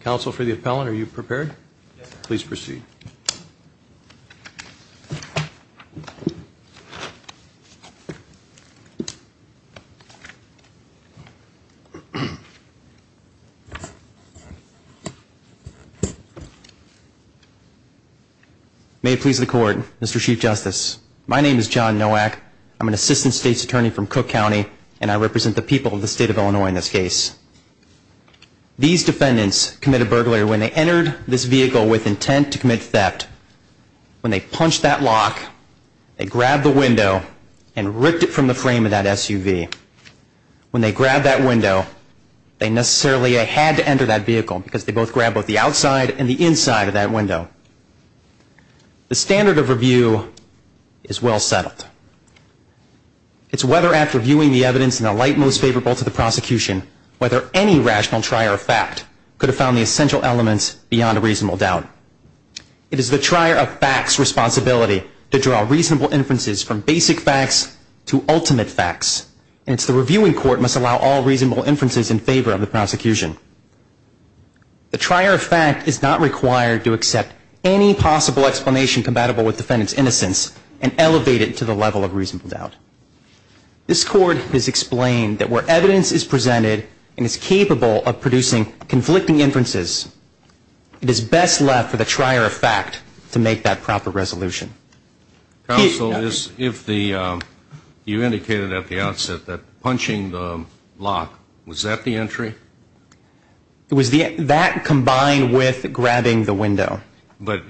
Council for the appellant, are you prepared? Please proceed. May it please the court, Mr. Chief Justice. My name is John Nowak. I'm an assistant state's attorney from Cook County, and I represent the people of the state of Illinois in this case. These defendants committed burglary when they entered this vehicle with intent to commit theft. When they punched that lock, they grabbed the window and ripped it from the frame of that SUV. When they grabbed that window, they necessarily had to enter that vehicle because they both grabbed both the outside and the inside of that window. The standard of review is well settled. It's whether after viewing the evidence in the light most favorable to the prosecution, whether any rational trier of fact could have found the essential elements beyond a reasonable doubt. It is the trier of facts' responsibility to draw reasonable inferences from basic facts to ultimate facts. And it's the reviewing court must allow all reasonable inferences in favor of the prosecution. The trier of fact is not required to accept any possible explanation compatible with defendant's innocence and elevate it to the level of reasonable doubt. This court has explained that where evidence is presented and is capable of producing conflicting inferences, it is best left for the trier of fact to make that proper resolution. Counsel, you indicated at the outset that punching the lock, was that the entry? That combined with grabbing the window. But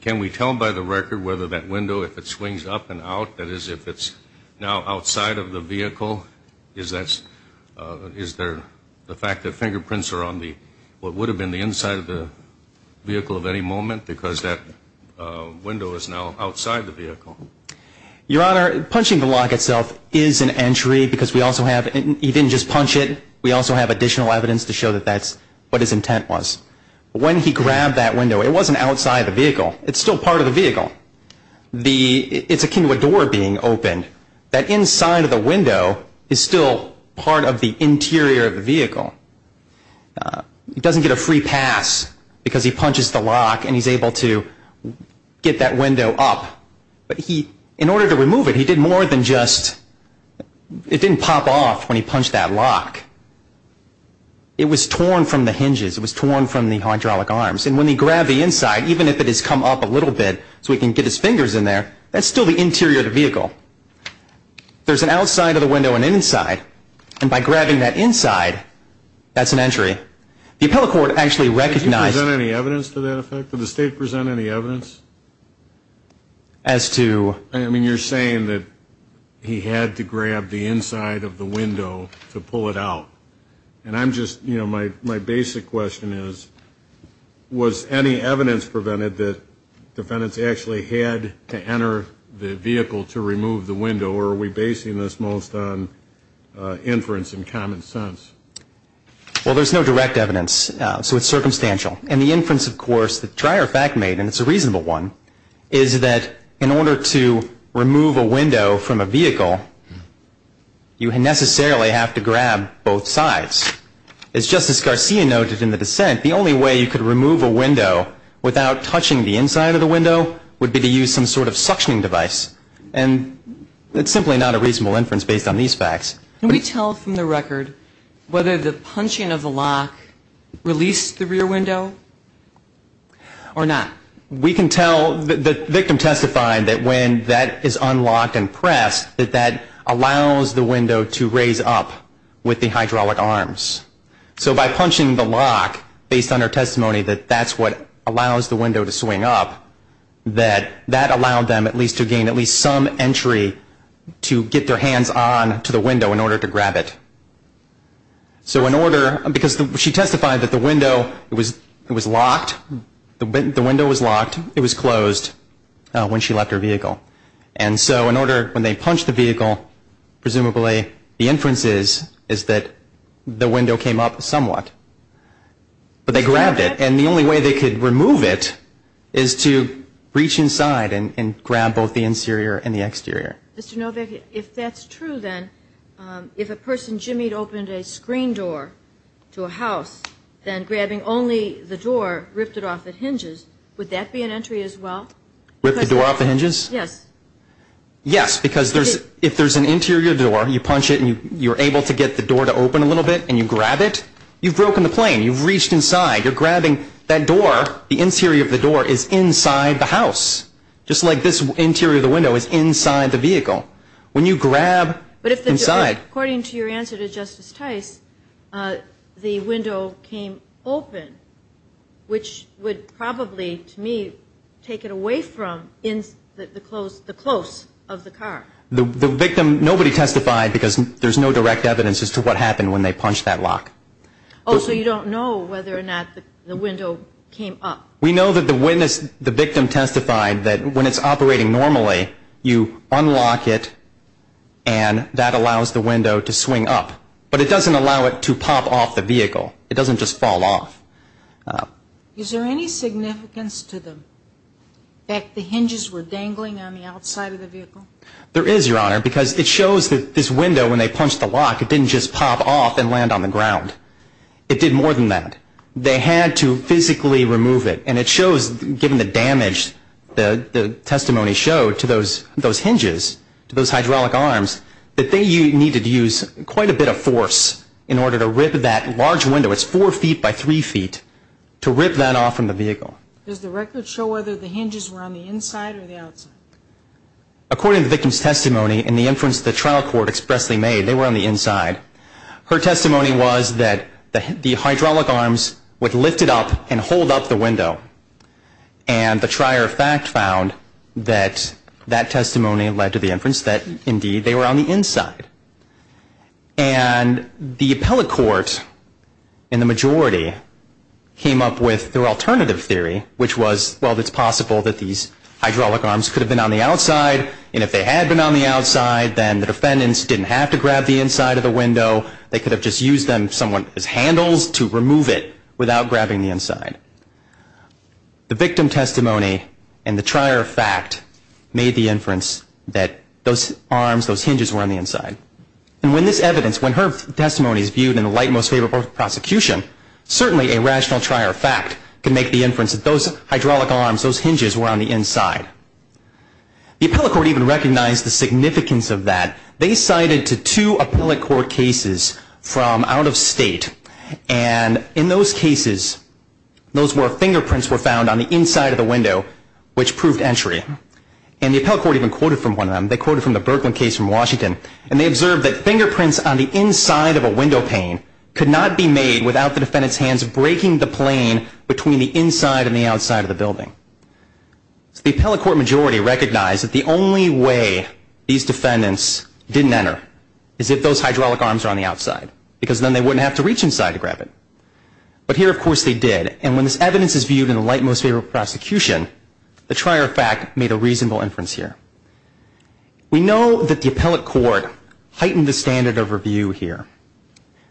can we tell by the record whether that window, if it swings up and out, that is if it's now outside of the vehicle, is there the fact that fingerprints are on what would have been the inside of the vehicle at any moment because that window is now outside the vehicle? Your Honor, punching the lock itself is an entry because we also have, he didn't just punch it, we also have additional evidence to show that that's what his intent was. When he grabbed that window, it wasn't outside the vehicle. It's still part of the vehicle. It's akin to a door being opened. That inside of the window is still part of the interior of the vehicle. He doesn't get a free pass because he punches the lock and he's able to get that window up. But he, in order to remove it, he did more than just, it didn't pop off when he punched that lock. It was torn from the hinges. It was torn from the hydraulic arms. And when he grabbed the inside, even if it has come up a little bit so he can get his fingers in there, that's still the interior of the vehicle. There's an outside of the window and an inside. And by grabbing that inside, that's an entry. The appellate court actually recognized. Did you present any evidence to that effect? Did the State present any evidence? As to? I mean, you're saying that he had to grab the inside of the window to pull it out. And I'm just, you know, my basic question is, was any evidence prevented that defendants actually had to enter the vehicle to remove the window? Or are we basing this most on inference and common sense? Well, there's no direct evidence. So it's circumstantial. And the inference, of course, the drier fact made, and it's a reasonable one, is that in order to remove a window from a vehicle, you necessarily have to grab both sides. As Justice Garcia noted in the dissent, the only way you could remove a window without touching the inside of the window would be to use some sort of suctioning device. And it's simply not a reasonable inference based on these facts. Can we tell from the record whether the punching of the lock released the rear window or not? We can tell. The victim testified that when that is unlocked and pressed, that that allows the window to raise up with the hydraulic arms. So by punching the lock, based on her testimony that that's what allows the window to swing up, that that allowed them at least to gain at least some entry to get their hands on to the window in order to grab it. So in order, because she testified that the window was locked. The window was locked. It was closed when she left her vehicle. And so in order, when they punched the vehicle, presumably the inference is that the window came up somewhat. But they grabbed it. And the only way they could remove it is to reach inside and grab both the interior and the exterior. Mr. Novick, if that's true, then if a person jimmied opened a screen door to a house, then grabbing only the door ripped it off the hinges, would that be an entry as well? Rip the door off the hinges? Yes. Yes, because if there's an interior door, you punch it and you're able to get the door to open a little bit and you grab it, you've broken the plane. You've reached inside. You're grabbing that door. The interior of the door is inside the house, just like this interior of the window is inside the vehicle. When you grab inside. But according to your answer to Justice Tice, the window came open, which would probably, to me, take it away from the close of the car. The victim, nobody testified because there's no direct evidence as to what happened when they punched that lock. Oh, so you don't know whether or not the window came up? We know that the witness, the victim testified that when it's operating normally, you unlock it and that allows the window to swing up. But it doesn't allow it to pop off the vehicle. It doesn't just fall off. Is there any significance to the fact the hinges were dangling on the outside of the vehicle? There is, Your Honor, because it shows that this window, when they punched the lock, it didn't just pop off and land on the ground. It did more than that. They had to physically remove it, and it shows, given the damage the testimony showed to those hinges, to those hydraulic arms, that they needed to use quite a bit of force in order to rip that large window. It's four feet by three feet to rip that off from the vehicle. Does the record show whether the hinges were on the inside or the outside? According to the victim's testimony and the inference the trial court expressly made, they were on the inside. Her testimony was that the hydraulic arms would lift it up and hold up the window. And the trier of fact found that that testimony led to the inference that, indeed, they were on the inside. And the appellate court in the majority came up with their alternative theory, which was, well, it's possible that these hydraulic arms could have been on the outside, and if they had been on the outside, then the defendants didn't have to grab the inside of the window. They could have just used someone's handles to remove it without grabbing the inside. The victim testimony and the trier of fact made the inference that those arms, those hinges, were on the inside. And when this evidence, when her testimony is viewed in the light most favorable of prosecution, certainly a rational trier of fact can make the inference that those hydraulic arms, those hinges, were on the inside. The appellate court even recognized the significance of that. They cited to two appellate court cases from out of state, and in those cases, those were fingerprints were found on the inside of the window, which proved entry. And the appellate court even quoted from one of them. They quoted from the Birkeland case from Washington, and they observed that fingerprints on the inside of a window pane could not be made without the defendant's hands breaking the plane between the inside and the outside of the building. So the appellate court majority recognized that the only way these defendants didn't enter is if those hydraulic arms are on the outside, because then they wouldn't have to reach inside to grab it. But here, of course, they did. And when this evidence is viewed in the light most favorable of prosecution, the trier of fact made a reasonable inference here. We know that the appellate court heightened the standard of review here.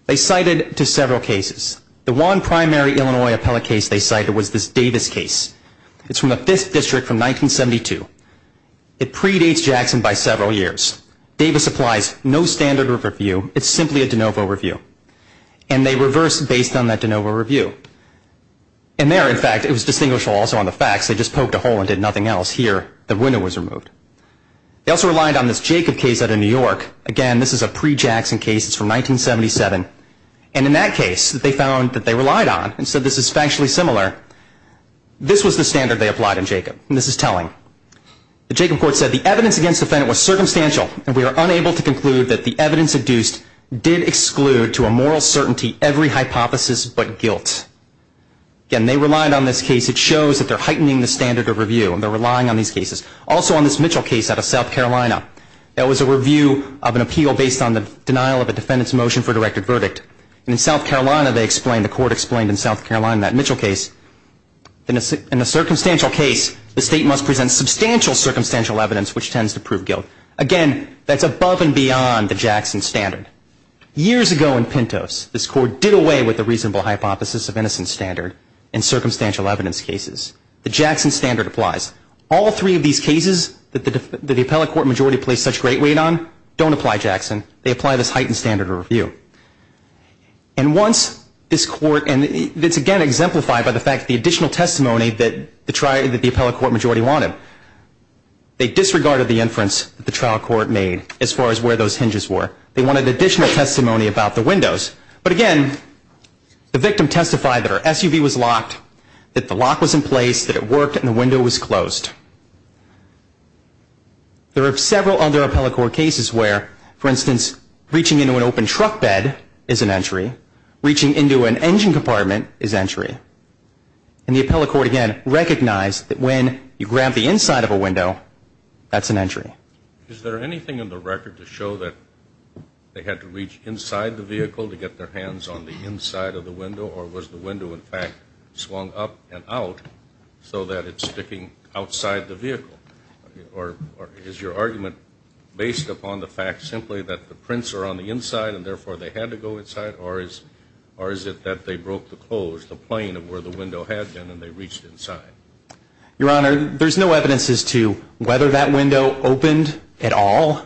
They cited to several cases. The one primary Illinois appellate case they cited was this Davis case. It's from the 5th District from 1972. It predates Jackson by several years. Davis applies no standard of review. It's simply a de novo review. And they reversed based on that de novo review. And there, in fact, it was distinguishable also on the facts. They just poked a hole and did nothing else. Here, the window was removed. They also relied on this Jacob case out of New York. Again, this is a pre-Jackson case. It's from 1977. And in that case, they found that they relied on, and so this is factually similar, this was the standard they applied in Jacob. And this is telling. The Jacob court said, The evidence against the defendant was circumstantial, and we are unable to conclude that the evidence adduced did exclude to a moral certainty every hypothesis but guilt. Again, they relied on this case. It shows that they're heightening the standard of review, and they're relying on these cases. Also, on this Mitchell case out of South Carolina, that was a review of an appeal based on the denial of a defendant's motion for a directed verdict. And in South Carolina, they explained, the court explained in South Carolina, that Mitchell case, in a circumstantial case, the state must present substantial circumstantial evidence which tends to prove guilt. Again, that's above and beyond the Jackson standard. Years ago in Pintos, this court did away with the reasonable hypothesis of innocent standard in circumstantial evidence cases. The Jackson standard applies. All three of these cases that the appellate court majority placed such great weight on, don't apply Jackson. They apply this heightened standard of review. And once this court, and it's again exemplified by the fact the additional testimony that the appellate court majority wanted. They disregarded the inference that the trial court made as far as where those hinges were. They wanted additional testimony about the windows. But again, the victim testified that her SUV was locked, that the lock was in place, that it worked and the window was closed. There are several other appellate court cases where, for instance, reaching into an open truck bed is an entry. Reaching into an engine compartment is entry. And the appellate court again recognized that when you grab the inside of a window, that's an entry. Is there anything in the record to show that they had to reach inside the vehicle to get their hands on the inside of the window? Or was the window, in fact, swung up and out so that it's sticking outside the vehicle? Or is your argument based upon the fact simply that the prints are on the inside and therefore they had to go inside? Or is it that they broke the close, the plane of where the window had been, and they reached inside? Your Honor, there's no evidence as to whether that window opened at all.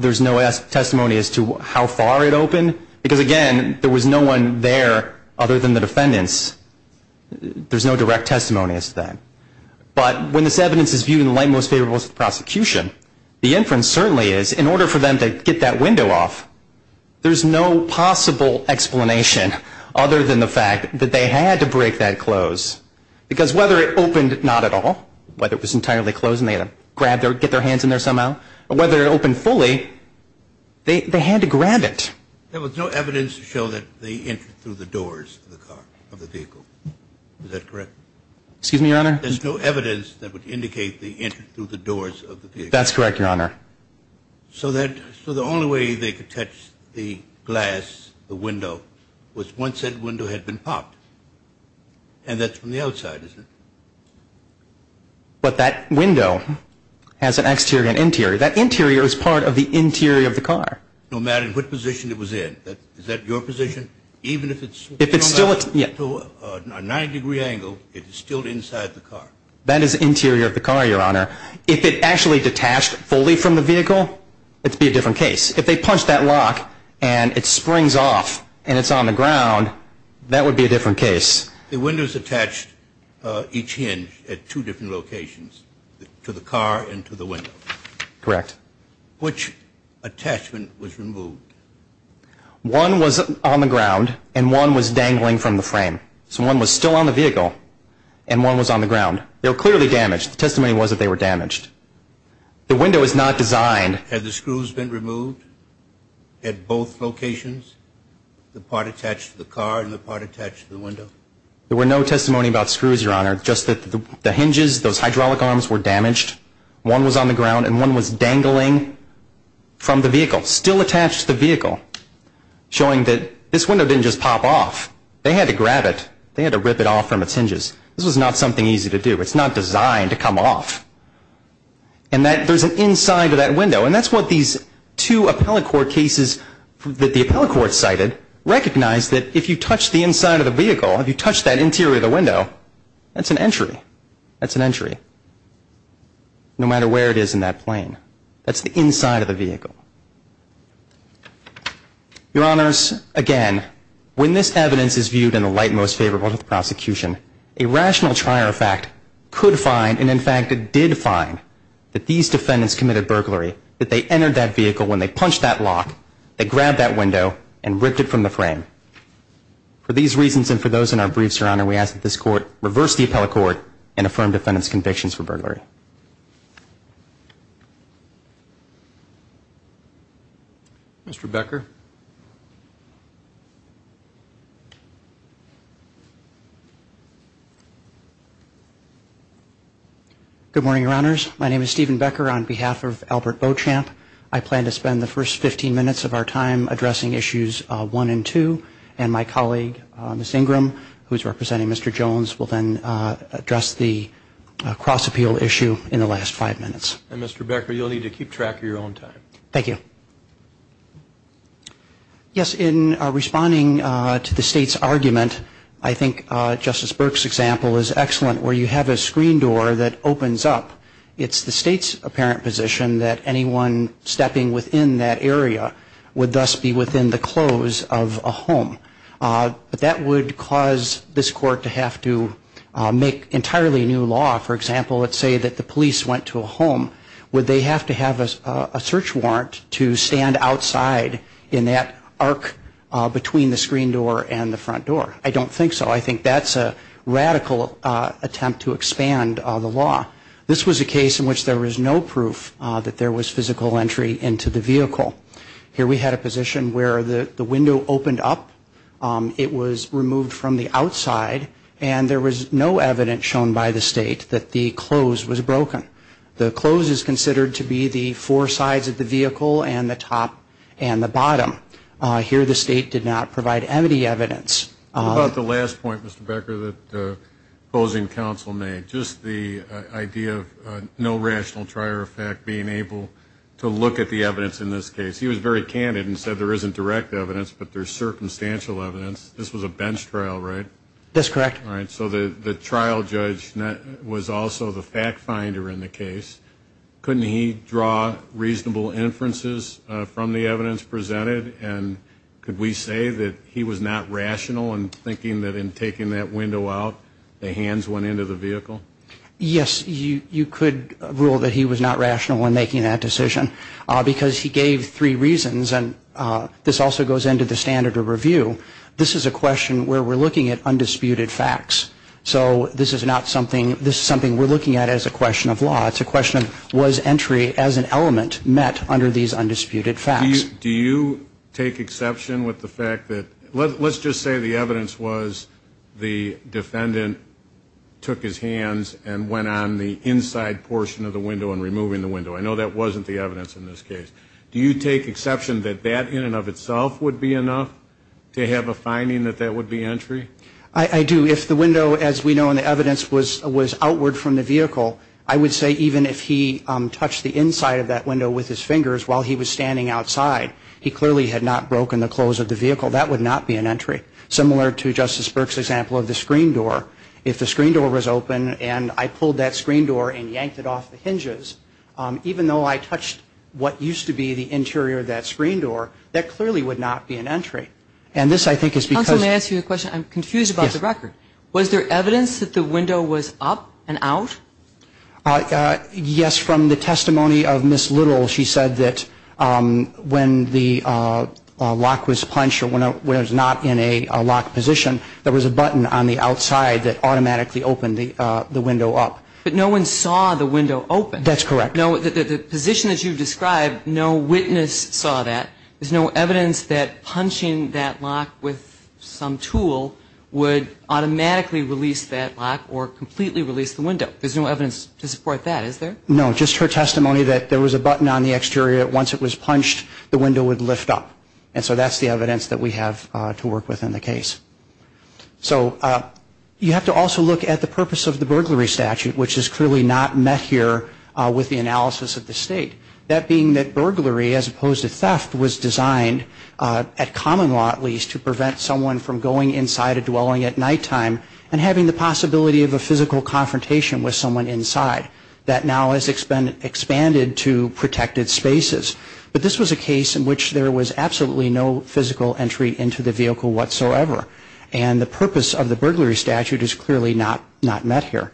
There's no testimony as to how far it opened. Because, again, there was no one there other than the defendants. There's no direct testimony as to that. But when this evidence is viewed in the light most favorable to the prosecution, the inference certainly is in order for them to get that window off, there's no possible explanation other than the fact that they had to break that close. Because whether it opened or not at all, whether it was entirely closed and they had to get their hands in there somehow, or whether it opened fully, they had to grab it. There was no evidence to show that they entered through the doors of the vehicle. Is that correct? Excuse me, Your Honor? There's no evidence that would indicate they entered through the doors of the vehicle. That's correct, Your Honor. So the only way they could touch the glass, the window, was once that window had been popped. And that's from the outside, isn't it? But that window has an exterior and interior. That interior is part of the interior of the car. No matter what position it was in. Is that your position? Even if it's thrown out to a 90-degree angle, it is still inside the car. That is the interior of the car, Your Honor. If it actually detached fully from the vehicle, it would be a different case. If they punched that lock and it springs off and it's on the ground, that would be a different case. The windows attached each hinge at two different locations, to the car and to the window. Correct. Which attachment was removed? One was on the ground and one was dangling from the frame. So one was still on the vehicle and one was on the ground. They were clearly damaged. The testimony was that they were damaged. The window is not designed. Had the screws been removed at both locations, the part attached to the car and the part attached to the window? There were no testimony about screws, Your Honor. Just that the hinges, those hydraulic arms were damaged. One was on the ground and one was dangling from the vehicle. Still attached to the vehicle. Showing that this window didn't just pop off. They had to grab it. They had to rip it off from its hinges. This was not something easy to do. It's not designed to come off. And there's an inside of that window. And that's what these two appellate court cases that the appellate court cited recognized that if you touch the inside of the vehicle, if you touch that interior of the window, that's an entry. That's an entry. No matter where it is in that plane. That's the inside of the vehicle. Your Honors, again, when this evidence is viewed in the light most favorable to the prosecution, a rational trier of fact could find, and in fact it did find, that these defendants committed burglary. That they entered that vehicle when they punched that lock. They grabbed that window and ripped it from the frame. For these reasons and for those in our briefs, Your Honor, we ask that this court reverse the appellate court and affirm defendants' convictions for burglary. Thank you. Mr. Becker. Good morning, Your Honors. My name is Stephen Becker on behalf of Albert Beauchamp. I plan to spend the first 15 minutes of our time addressing issues one and two. And my colleague, Ms. Ingram, who is representing Mr. Jones, will then address the cross-appeal issue in the last five minutes. And, Mr. Becker, you'll need to keep track of your own time. Thank you. Yes, in responding to the State's argument, I think Justice Burke's example is excellent where you have a screen door that opens up. It's the State's apparent position that anyone stepping within that area would thus be within the close of a home. But that would cause this court to have to make entirely new law. For example, let's say that the police went to a home. Would they have to have a search warrant to stand outside in that arc between the screen door and the front door? I don't think so. I think that's a radical attempt to expand the law. This was a case in which there was no proof that there was physical entry into the vehicle. Here we had a position where the window opened up, it was removed from the outside, and there was no evidence shown by the State that the close was broken. The close is considered to be the four sides of the vehicle and the top and the bottom. Here the State did not provide any evidence. What about the last point, Mr. Becker, that opposing counsel made, just the idea of no rational trier of fact being able to look at the evidence in this case? He was very candid and said there isn't direct evidence, but there's circumstantial evidence. This was a bench trial, right? That's correct. All right, so the trial judge was also the fact finder in the case. Couldn't he draw reasonable inferences from the evidence presented? And could we say that he was not rational in thinking that in taking that window out, the hands went into the vehicle? Yes, you could rule that he was not rational in making that decision because he gave three reasons, and this also goes into the standard of review. This is a question where we're looking at undisputed facts. So this is not something we're looking at as a question of law. It's a question of was entry as an element met under these undisputed facts? Do you take exception with the fact that let's just say the evidence was the defendant took his hands and went on the inside portion of the window and removing the window. I know that wasn't the evidence in this case. Do you take exception that that in and of itself would be enough to have a finding that that would be entry? I do. If the window, as we know in the evidence, was outward from the vehicle, I would say even if he touched the inside of that window with his fingers while he was standing outside, he clearly had not broken the close of the vehicle. That would not be an entry. Similar to Justice Burke's example of the screen door. If the screen door was open and I pulled that screen door and yanked it off the hinges, even though I touched what used to be the interior of that screen door, that clearly would not be an entry. And this, I think, is because – Counsel, may I ask you a question? I'm confused about the record. Yes. Was there evidence that the window was up and out? Yes. From the testimony of Ms. Little, she said that when the lock was punched or when it was not in a locked position, there was a button on the outside that automatically opened the window up. But no one saw the window open. That's correct. The position that you've described, no witness saw that. There's no evidence that punching that lock with some tool would automatically release that lock or completely release the window. There's no evidence to support that, is there? No. Just her testimony that there was a button on the exterior that once it was punched, the window would lift up. And so that's the evidence that we have to work with in the case. So you have to also look at the purpose of the burglary statute, which is clearly not met here with the analysis of the State. That being that burglary, as opposed to theft, was designed, at common law at least, to prevent someone from going inside a dwelling at nighttime and having the possibility of a physical confrontation with someone inside. That now has expanded to protected spaces. But this was a case in which there was absolutely no physical entry into the vehicle whatsoever. And the purpose of the burglary statute is clearly not met here.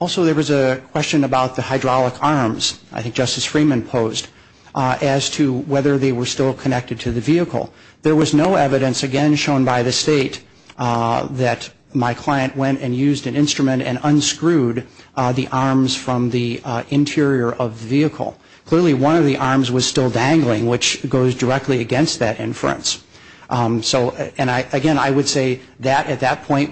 Also, there was a question about the hydraulic arms. I think Justice Freeman posed as to whether they were still connected to the vehicle. There was no evidence, again shown by the State, that my client went and used an instrument and unscrewed the arms from the interior of the vehicle. Clearly, one of the arms was still dangling, which goes directly against that inference. And again, I would say that at that point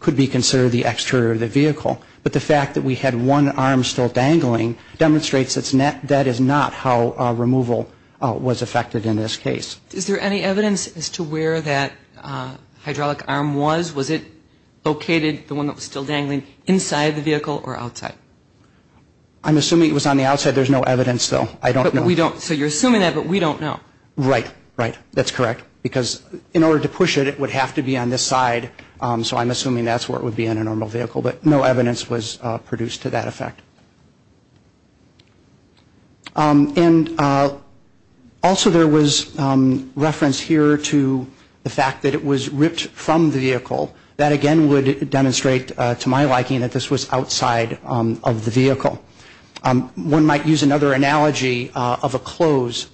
could be considered the exterior of the vehicle. But the fact that we had one arm still dangling demonstrates that is not how removal was affected in this case. Is there any evidence as to where that hydraulic arm was? Was it located, the one that was still dangling, inside the vehicle or outside? I'm assuming it was on the outside. There's no evidence, though. I don't know. So you're assuming that, but we don't know. Right. Right. That's correct. Because in order to push it, it would have to be on this side. So I'm assuming that's where it would be in a normal vehicle. But no evidence was produced to that effect. And also there was reference here to the fact that it was ripped from the vehicle. That, again, would demonstrate to my liking that this was outside of the vehicle. One might use another analogy of a close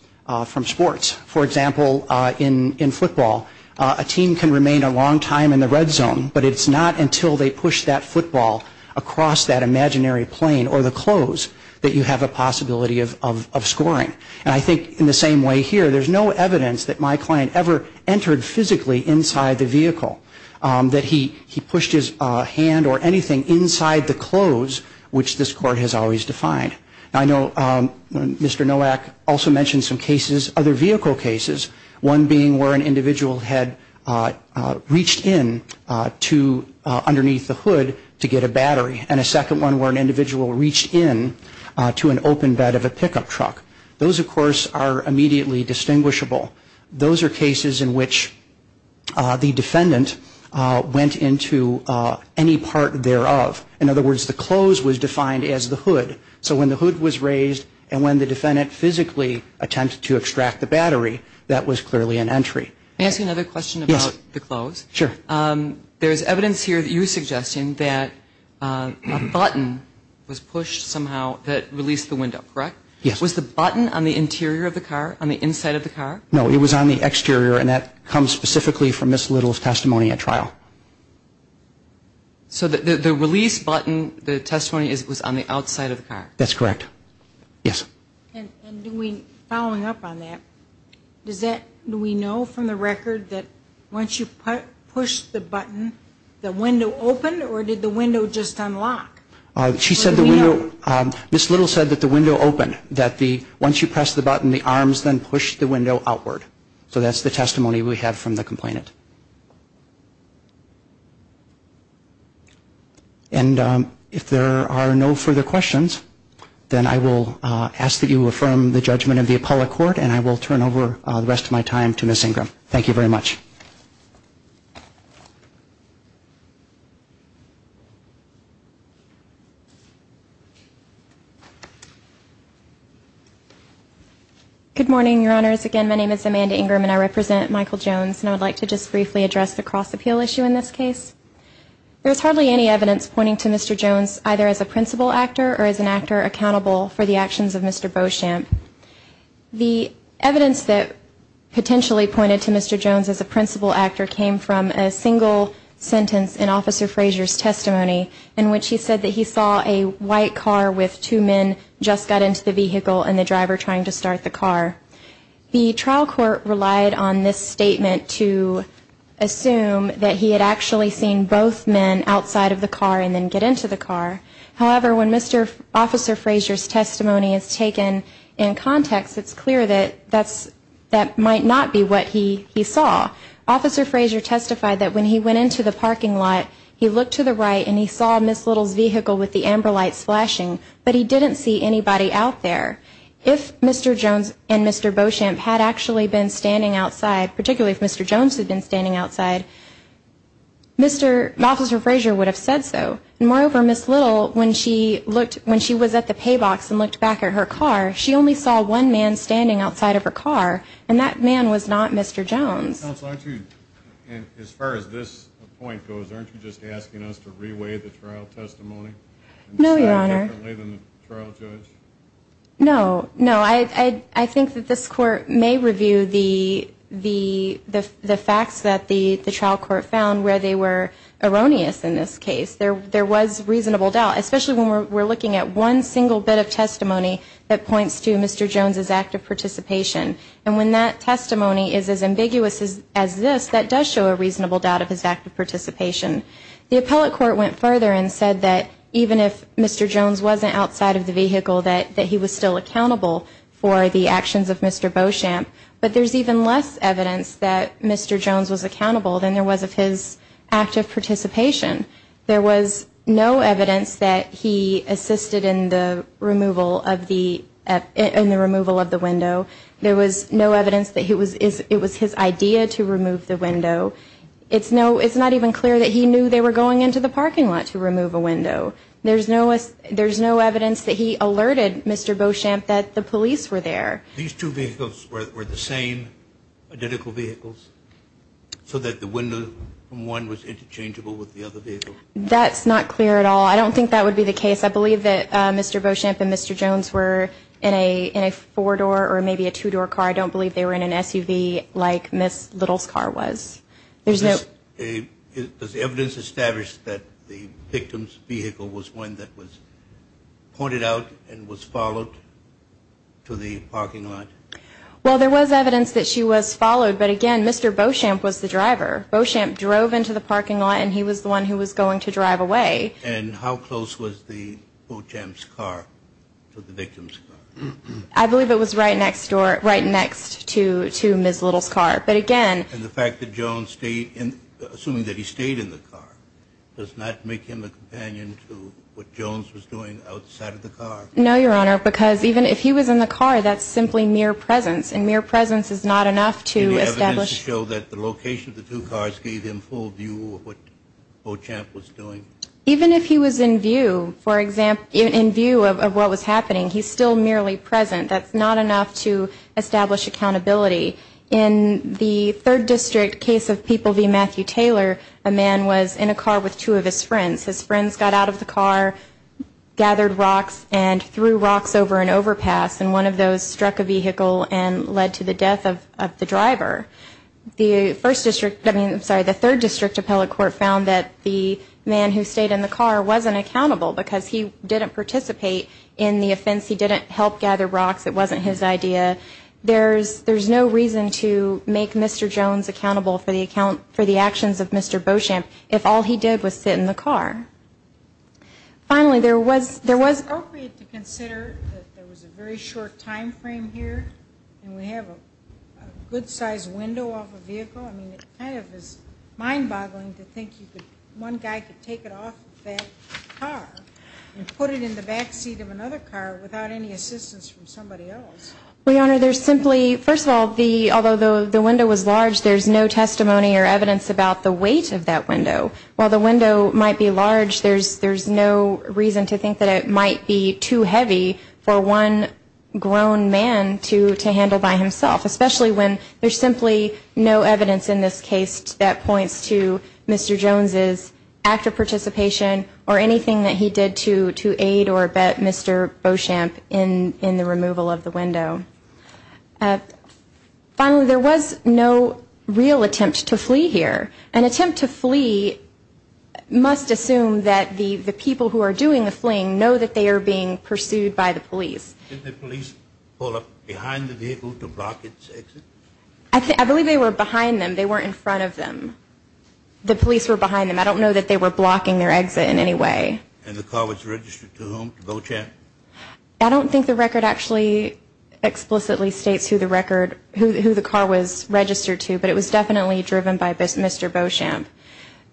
from sports. For example, in football, a team can remain a long time in the red zone, but it's not until they push that football across that imaginary plane or the close that you have a possibility of scoring. And I think in the same way here, there's no evidence that my client ever entered physically inside the vehicle, that he pushed his hand or anything inside the close, which this Court has always defined. I know Mr. Nowak also mentioned some cases, other vehicle cases, one being where an individual had reached in underneath the hood to get a battery, and a second one where an individual reached in to an open bed of a pickup truck. Those, of course, are immediately distinguishable. Those are cases in which the defendant went into any part thereof. So when the hood was raised and when the defendant physically attempted to extract the battery, that was clearly an entry. May I ask you another question about the close? Yes, sure. There's evidence here that you're suggesting that a button was pushed somehow that released the window, correct? Yes. Was the button on the interior of the car, on the inside of the car? No, it was on the exterior, and that comes specifically from Ms. Little's testimony at trial. So the release button, the testimony was on the outside of the car? That's correct. Yes. And following up on that, do we know from the record that once you pushed the button, the window opened, or did the window just unlock? She said the window, Ms. Little said that the window opened, that once you pressed the button, the arms then pushed the window outward. So that's the testimony we have from the complainant. And if there are no further questions, then I will ask that you affirm the judgment of the Apollo Court, and I will turn over the rest of my time to Ms. Ingram. Thank you very much. Good morning, Your Honors. Again, my name is Amanda Ingram, and I represent Michael Jones. And I would like to just briefly address the cross-appeal issue in this case. There is hardly any evidence pointing to Mr. Jones either as a principal actor or as an actor accountable for the actions of Mr. Beauchamp. The evidence that potentially pointed to Mr. Jones as a principal actor came from a single sentence in Officer Frazier's testimony, in which he said that he saw a white car with two men just got into the vehicle and the driver trying to start the car. The trial court relied on this statement to assume that he had actually seen both men outside of the car and then get into the car. However, when Mr. Officer Frazier's testimony is taken in context, it's clear that that might not be what he saw. Officer Frazier testified that when he went into the parking lot, he looked to the right, and he saw Ms. Little's vehicle with the amber lights flashing, but he didn't see anybody out there. If Mr. Jones and Mr. Beauchamp had actually been standing outside, particularly if Mr. Jones had been standing outside, Mr. Officer Frazier would have said so. And moreover, Ms. Little, when she was at the pay box and looked back at her car, she only saw one man standing outside of her car, and that man was not Mr. Jones. Counsel, aren't you, as far as this point goes, aren't you just asking us to reweigh the trial testimony? No, Your Honor. And say it differently than the trial judge? No. No, I think that this Court may review the facts that the trial court found where they were erroneous in this case. There was reasonable doubt, especially when we're looking at one single bit of testimony that points to Mr. Jones' act of participation. And when that testimony is as ambiguous as this, that does show a reasonable doubt of his act of participation. The appellate court went further and said that even if Mr. Jones wasn't outside of the vehicle, that he was still accountable for the actions of Mr. Beauchamp. But there's even less evidence that Mr. Jones was accountable than there was of his act of participation. There was no evidence that he assisted in the removal of the window. There was no evidence that it was his idea to remove the window. It's not even clear that he knew they were going into the parking lot to remove a window. There's no evidence that he alerted Mr. Beauchamp that the police were there. These two vehicles were the same identical vehicles so that the window from one was interchangeable with the other vehicle? That's not clear at all. I don't think that would be the case. I believe that Mr. Beauchamp and Mr. Jones were in a four-door or maybe a two-door car. I don't believe they were in an SUV like Ms. Little's car was. Does the evidence establish that the victim's vehicle was one that was pointed out and was followed to the parking lot? Well, there was evidence that she was followed. But, again, Mr. Beauchamp was the driver. Beauchamp drove into the parking lot, and he was the one who was going to drive away. And how close was Beauchamp's car to the victim's car? I believe it was right next door, right next to Ms. Little's car. But, again – And the fact that Jones stayed in – assuming that he stayed in the car does not make him a companion to what Jones was doing outside of the car? No, Your Honor, because even if he was in the car, that's simply mere presence, and mere presence is not enough to establish – Any evidence to show that the location of the two cars gave him full view of what Beauchamp was doing? Even if he was in view, for example – in view of what was happening, he's still merely present. That's not enough to establish accountability. In the Third District case of People v. Matthew Taylor, a man was in a car with two of his friends. His friends got out of the car, gathered rocks, and threw rocks over an overpass, and one of those struck a vehicle and led to the death of the driver. The First District – I mean, I'm sorry, the Third District Appellate Court found that the man who stayed in the car wasn't accountable because he didn't participate in the offense, he didn't help gather rocks, it wasn't his idea. There's no reason to make Mr. Jones accountable for the actions of Mr. Beauchamp if all he did was sit in the car. Finally, there was – that there was a very short time frame here, and we have a good-sized window off a vehicle? I mean, it kind of is mind-boggling to think you could – one guy could take it off of that car and put it in the back seat of another car without any assistance from somebody else. Well, Your Honor, there's simply – first of all, the – although the window was large, there's no testimony or evidence about the weight of that window. While the window might be large, there's no reason to think that it might be too heavy for one grown man to handle by himself, especially when there's simply no evidence in this case that points to Mr. Jones' active participation or anything that he did to aid or abet Mr. Beauchamp in the removal of the window. Finally, there was no real attempt to flee here. An attempt to flee must assume that the people who are doing the fleeing know that they are being pursued by the police. Did the police pull up behind the vehicle to block its exit? I believe they were behind them. They weren't in front of them. The police were behind them. I don't know that they were blocking their exit in any way. And the car was registered to whom? To Beauchamp? I don't think the record actually explicitly states who the record – who the car was registered to, but it was definitely driven by Mr. Beauchamp.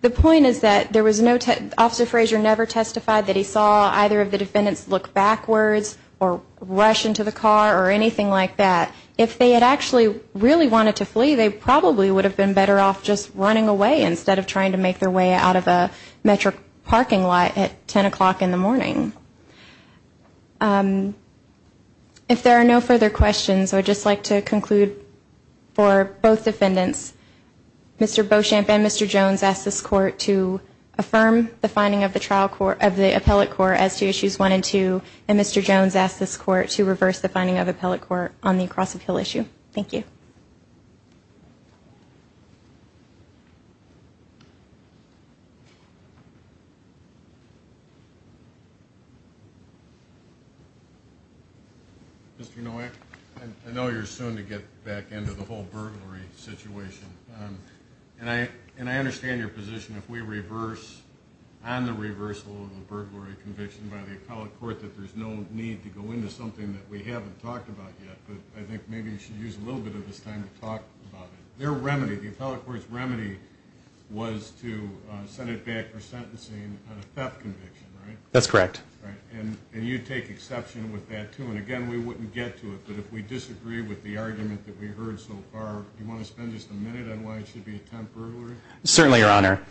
The point is that there was no – Officer Fraser never testified that he saw either of the defendants look backwards or rush into the car or anything like that. If they had actually really wanted to flee, they probably would have been better off just running away instead of trying to make their way out of a metro parking lot at 10 o'clock in the morning. If there are no further questions, I would just like to conclude for both defendants. Mr. Beauchamp and Mr. Jones asked this court to affirm the finding of the trial court – of the appellate court as to issues one and two, and Mr. Jones asked this court to reverse the finding of the appellate court on the Cross of Hill issue. Thank you. Mr. Nowak, I know you're soon to get back into the whole burglary situation, and I understand your position if we reverse – on the reversal of the burglary conviction by the appellate court that there's no need to go into something that we haven't talked about yet, but I think maybe we should use a little bit of this time to talk about it. Their remedy – the appellate court's remedy was to send it back for sentencing on a theft conviction, right? That's correct. And you take exception with that, too, and again, we wouldn't get to it, but if we disagree with the argument that we've heard so far, do you want to spend just a minute on why it should be a temp burglary? Certainly, Your Honor.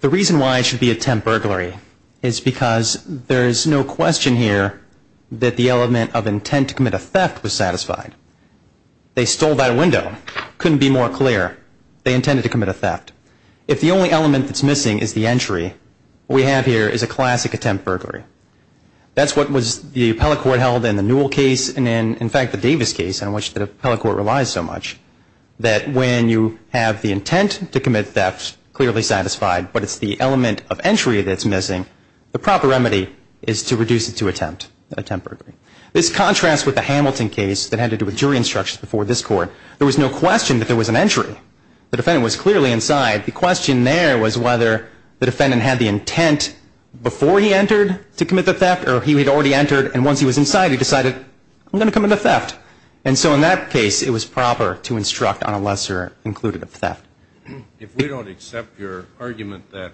The reason why it should be a temp burglary is because there is no question here that the element of intent to commit a theft was satisfied. They stole that window. Couldn't be more clear. They intended to commit a theft. If the only element that's missing is the entry, what we have here is a classic temp burglary. That's what was the appellate court held in the Newell case, and in fact the Davis case on which the appellate court relies so much, that when you have the intent to commit theft clearly satisfied, but it's the element of entry that's missing, the proper remedy is to reduce it to a temp burglary. This contrasts with the Hamilton case that had to do with jury instructions before this Court. There was no question that there was an entry. The defendant was clearly inside. The question there was whether the defendant had the intent before he entered to commit the theft or he had already entered, and once he was inside, he decided, I'm going to commit a theft. And so in that case, it was proper to instruct on a lesser included of theft. If we don't accept your argument that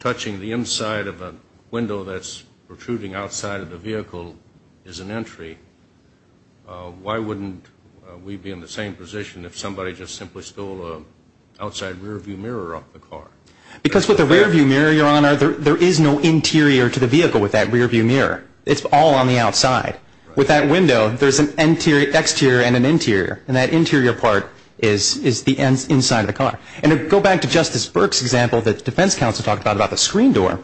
touching the inside of a window that's protruding outside of the vehicle is an entry, why wouldn't we be in the same position if somebody just simply stole an outside rearview mirror off the car? Because with the rearview mirror, Your Honor, there is no interior to the vehicle with that rearview mirror. It's all on the outside. With that window, there's an exterior and an interior, and that interior part is the inside of the car. And to go back to Justice Burke's example that the defense counsel talked about, about the screen door,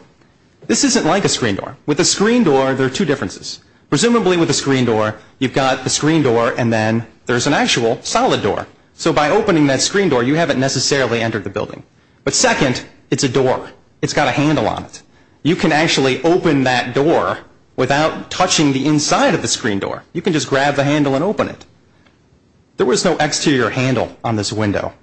this isn't like a screen door. With a screen door, there are two differences. Presumably with a screen door, you've got the screen door and then there's an actual solid door. So by opening that screen door, you haven't necessarily entered the building. But second, it's a door. It's got a handle on it. You can actually open that door without touching the inside of the screen door. You can just grab the handle and open it. There was no exterior handle on this window.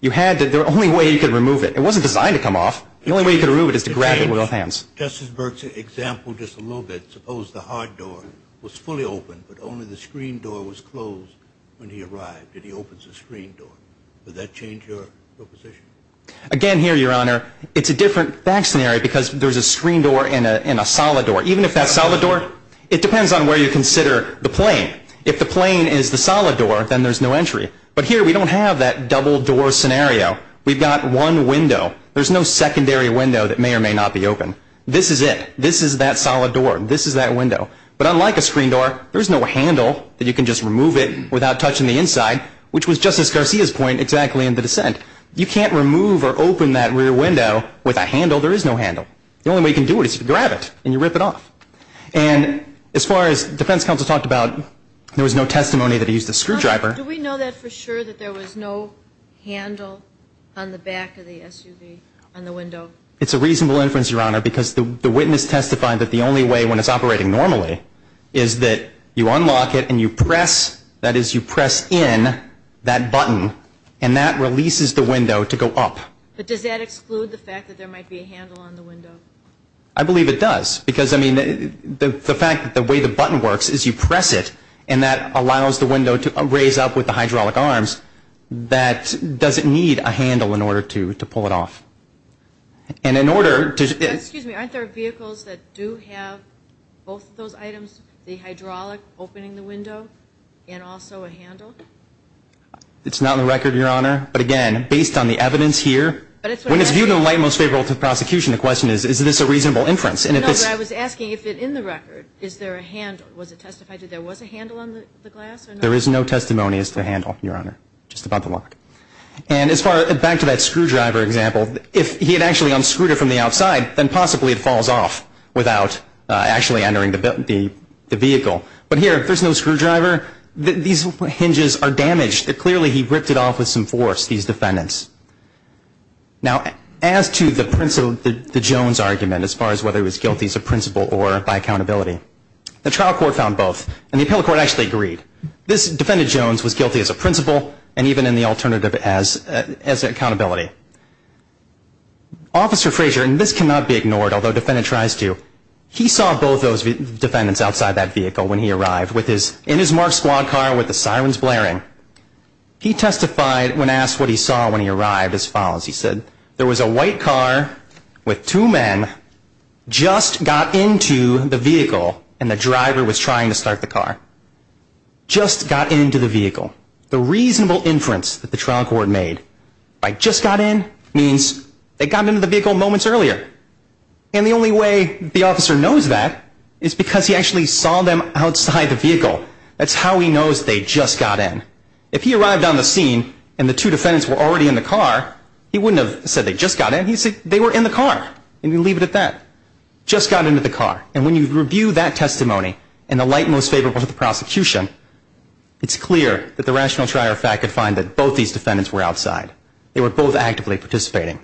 You had to, the only way you could remove it, it wasn't designed to come off, the only way you could remove it is to grab it with both hands. Justice Burke's example just a little bit, suppose the hard door was fully open, but only the screen door was closed when he arrived and he opens the screen door. Would that change your proposition? Again, here, Your Honor, it's a different fact scenario because there's a screen door and a solid door. Even if that's a solid door, it depends on where you consider the plane. If the plane is the solid door, then there's no entry. But here we don't have that double door scenario. We've got one window. There's no secondary window that may or may not be open. This is it. This is that solid door. This is that window. But unlike a screen door, there's no handle that you can just remove it without touching the inside, which was Justice Garcia's point exactly in the dissent. You can't remove or open that rear window with a handle. There is no handle. The only way you can do it is to grab it and you rip it off. And as far as defense counsel talked about, there was no testimony that he used a screwdriver. Do we know that for sure that there was no handle on the back of the SUV on the window? It's a reasonable inference, Your Honor, because the witness testified that the only way when it's operating normally is that you unlock it and you press, that is you press in that button, and that releases the window to go up. But does that exclude the fact that there might be a handle on the window? I believe it does because, I mean, the fact that the way the button works is you press it and that allows the window to raise up with the hydraulic arms, that doesn't need a handle in order to pull it off. And in order to- Excuse me. Aren't there vehicles that do have both of those items, the hydraulic opening the window and also a handle? It's not on the record, Your Honor. But, again, based on the evidence here, when it's viewed in the light most favorable to prosecution, the question is, is this a reasonable inference? Was it testified that there was a handle on the glass? There is no testimony as to the handle, Your Honor, just about the lock. And as far, back to that screwdriver example, if he had actually unscrewed it from the outside, then possibly it falls off without actually entering the vehicle. But here, if there's no screwdriver, these hinges are damaged. Clearly he ripped it off with some force, these defendants. Now, as to the Jones argument as far as whether he was guilty as a principal or by accountability, the trial court found both. And the appellate court actually agreed. This defendant, Jones, was guilty as a principal and even in the alternative as accountability. Officer Frazier, and this cannot be ignored, although a defendant tries to, he saw both those defendants outside that vehicle when he arrived in his marked squad car with the sirens blaring. He testified when asked what he saw when he arrived as follows. He said there was a white car with two men just got into the vehicle and the driver was trying to start the car. Just got into the vehicle. The reasonable inference that the trial court made by just got in means they got into the vehicle moments earlier. And the only way the officer knows that is because he actually saw them outside the vehicle. That's how he knows they just got in. If he arrived on the scene and the two defendants were already in the car, he wouldn't have said they just got in. He'd say they were in the car and he'd leave it at that. Just got into the car. And when you review that testimony in the light most favorable to the prosecution, it's clear that the rational trier of fact could find that both these defendants were outside. They were both actively participating.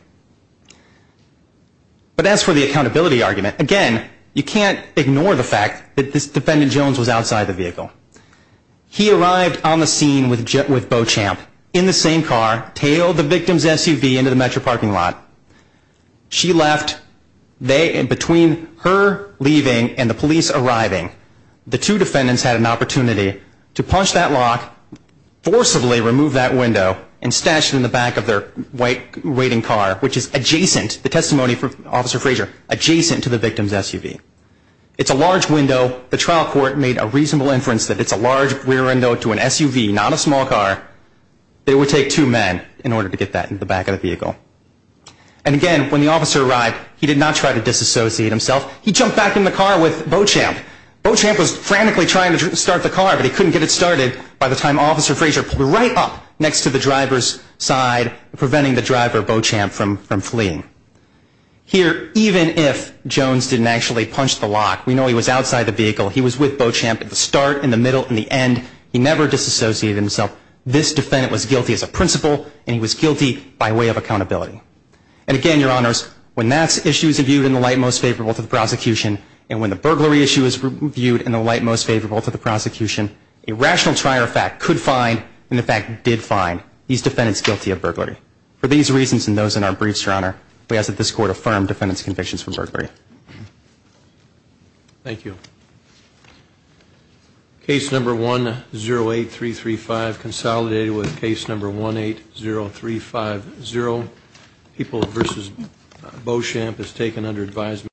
But as for the accountability argument, again, you can't ignore the fact that this defendant, Jones, was outside the vehicle. He arrived on the scene with Beauchamp in the same car, tailed the victim's SUV into the metro parking lot. She left. Between her leaving and the police arriving, the two defendants had an opportunity to punch that lock, forcibly remove that window, and stash it in the back of their white waiting car, which is adjacent, the testimony from Officer Frazier, adjacent to the victim's SUV. It's a large window. The trial court made a reasonable inference that it's a large rear window to an SUV, not a small car. It would take two men in order to get that in the back of the vehicle. And again, when the officer arrived, he did not try to disassociate himself. He jumped back in the car with Beauchamp. Beauchamp was frantically trying to start the car, but he couldn't get it started by the time Officer Frazier pulled her right up next to the driver's side, preventing the driver, Beauchamp, from fleeing. Here, even if Jones didn't actually punch the lock, we know he was outside the vehicle. He was with Beauchamp at the start, in the middle, in the end. He never disassociated himself. This defendant was guilty as a principal, and he was guilty by way of accountability. And again, Your Honors, when that issue is viewed in the light most favorable to the prosecution, and when the burglary issue is viewed in the light most favorable to the prosecution, a rational trier of fact could find, and in fact did find, these defendants guilty of burglary. For these reasons and those in our briefs, Your Honor, we ask that this Court affirm defendant's convictions for burglary. Thank you. Case number 108-335, consolidated with case number 180-350, People v. Beauchamp is taken under advisement.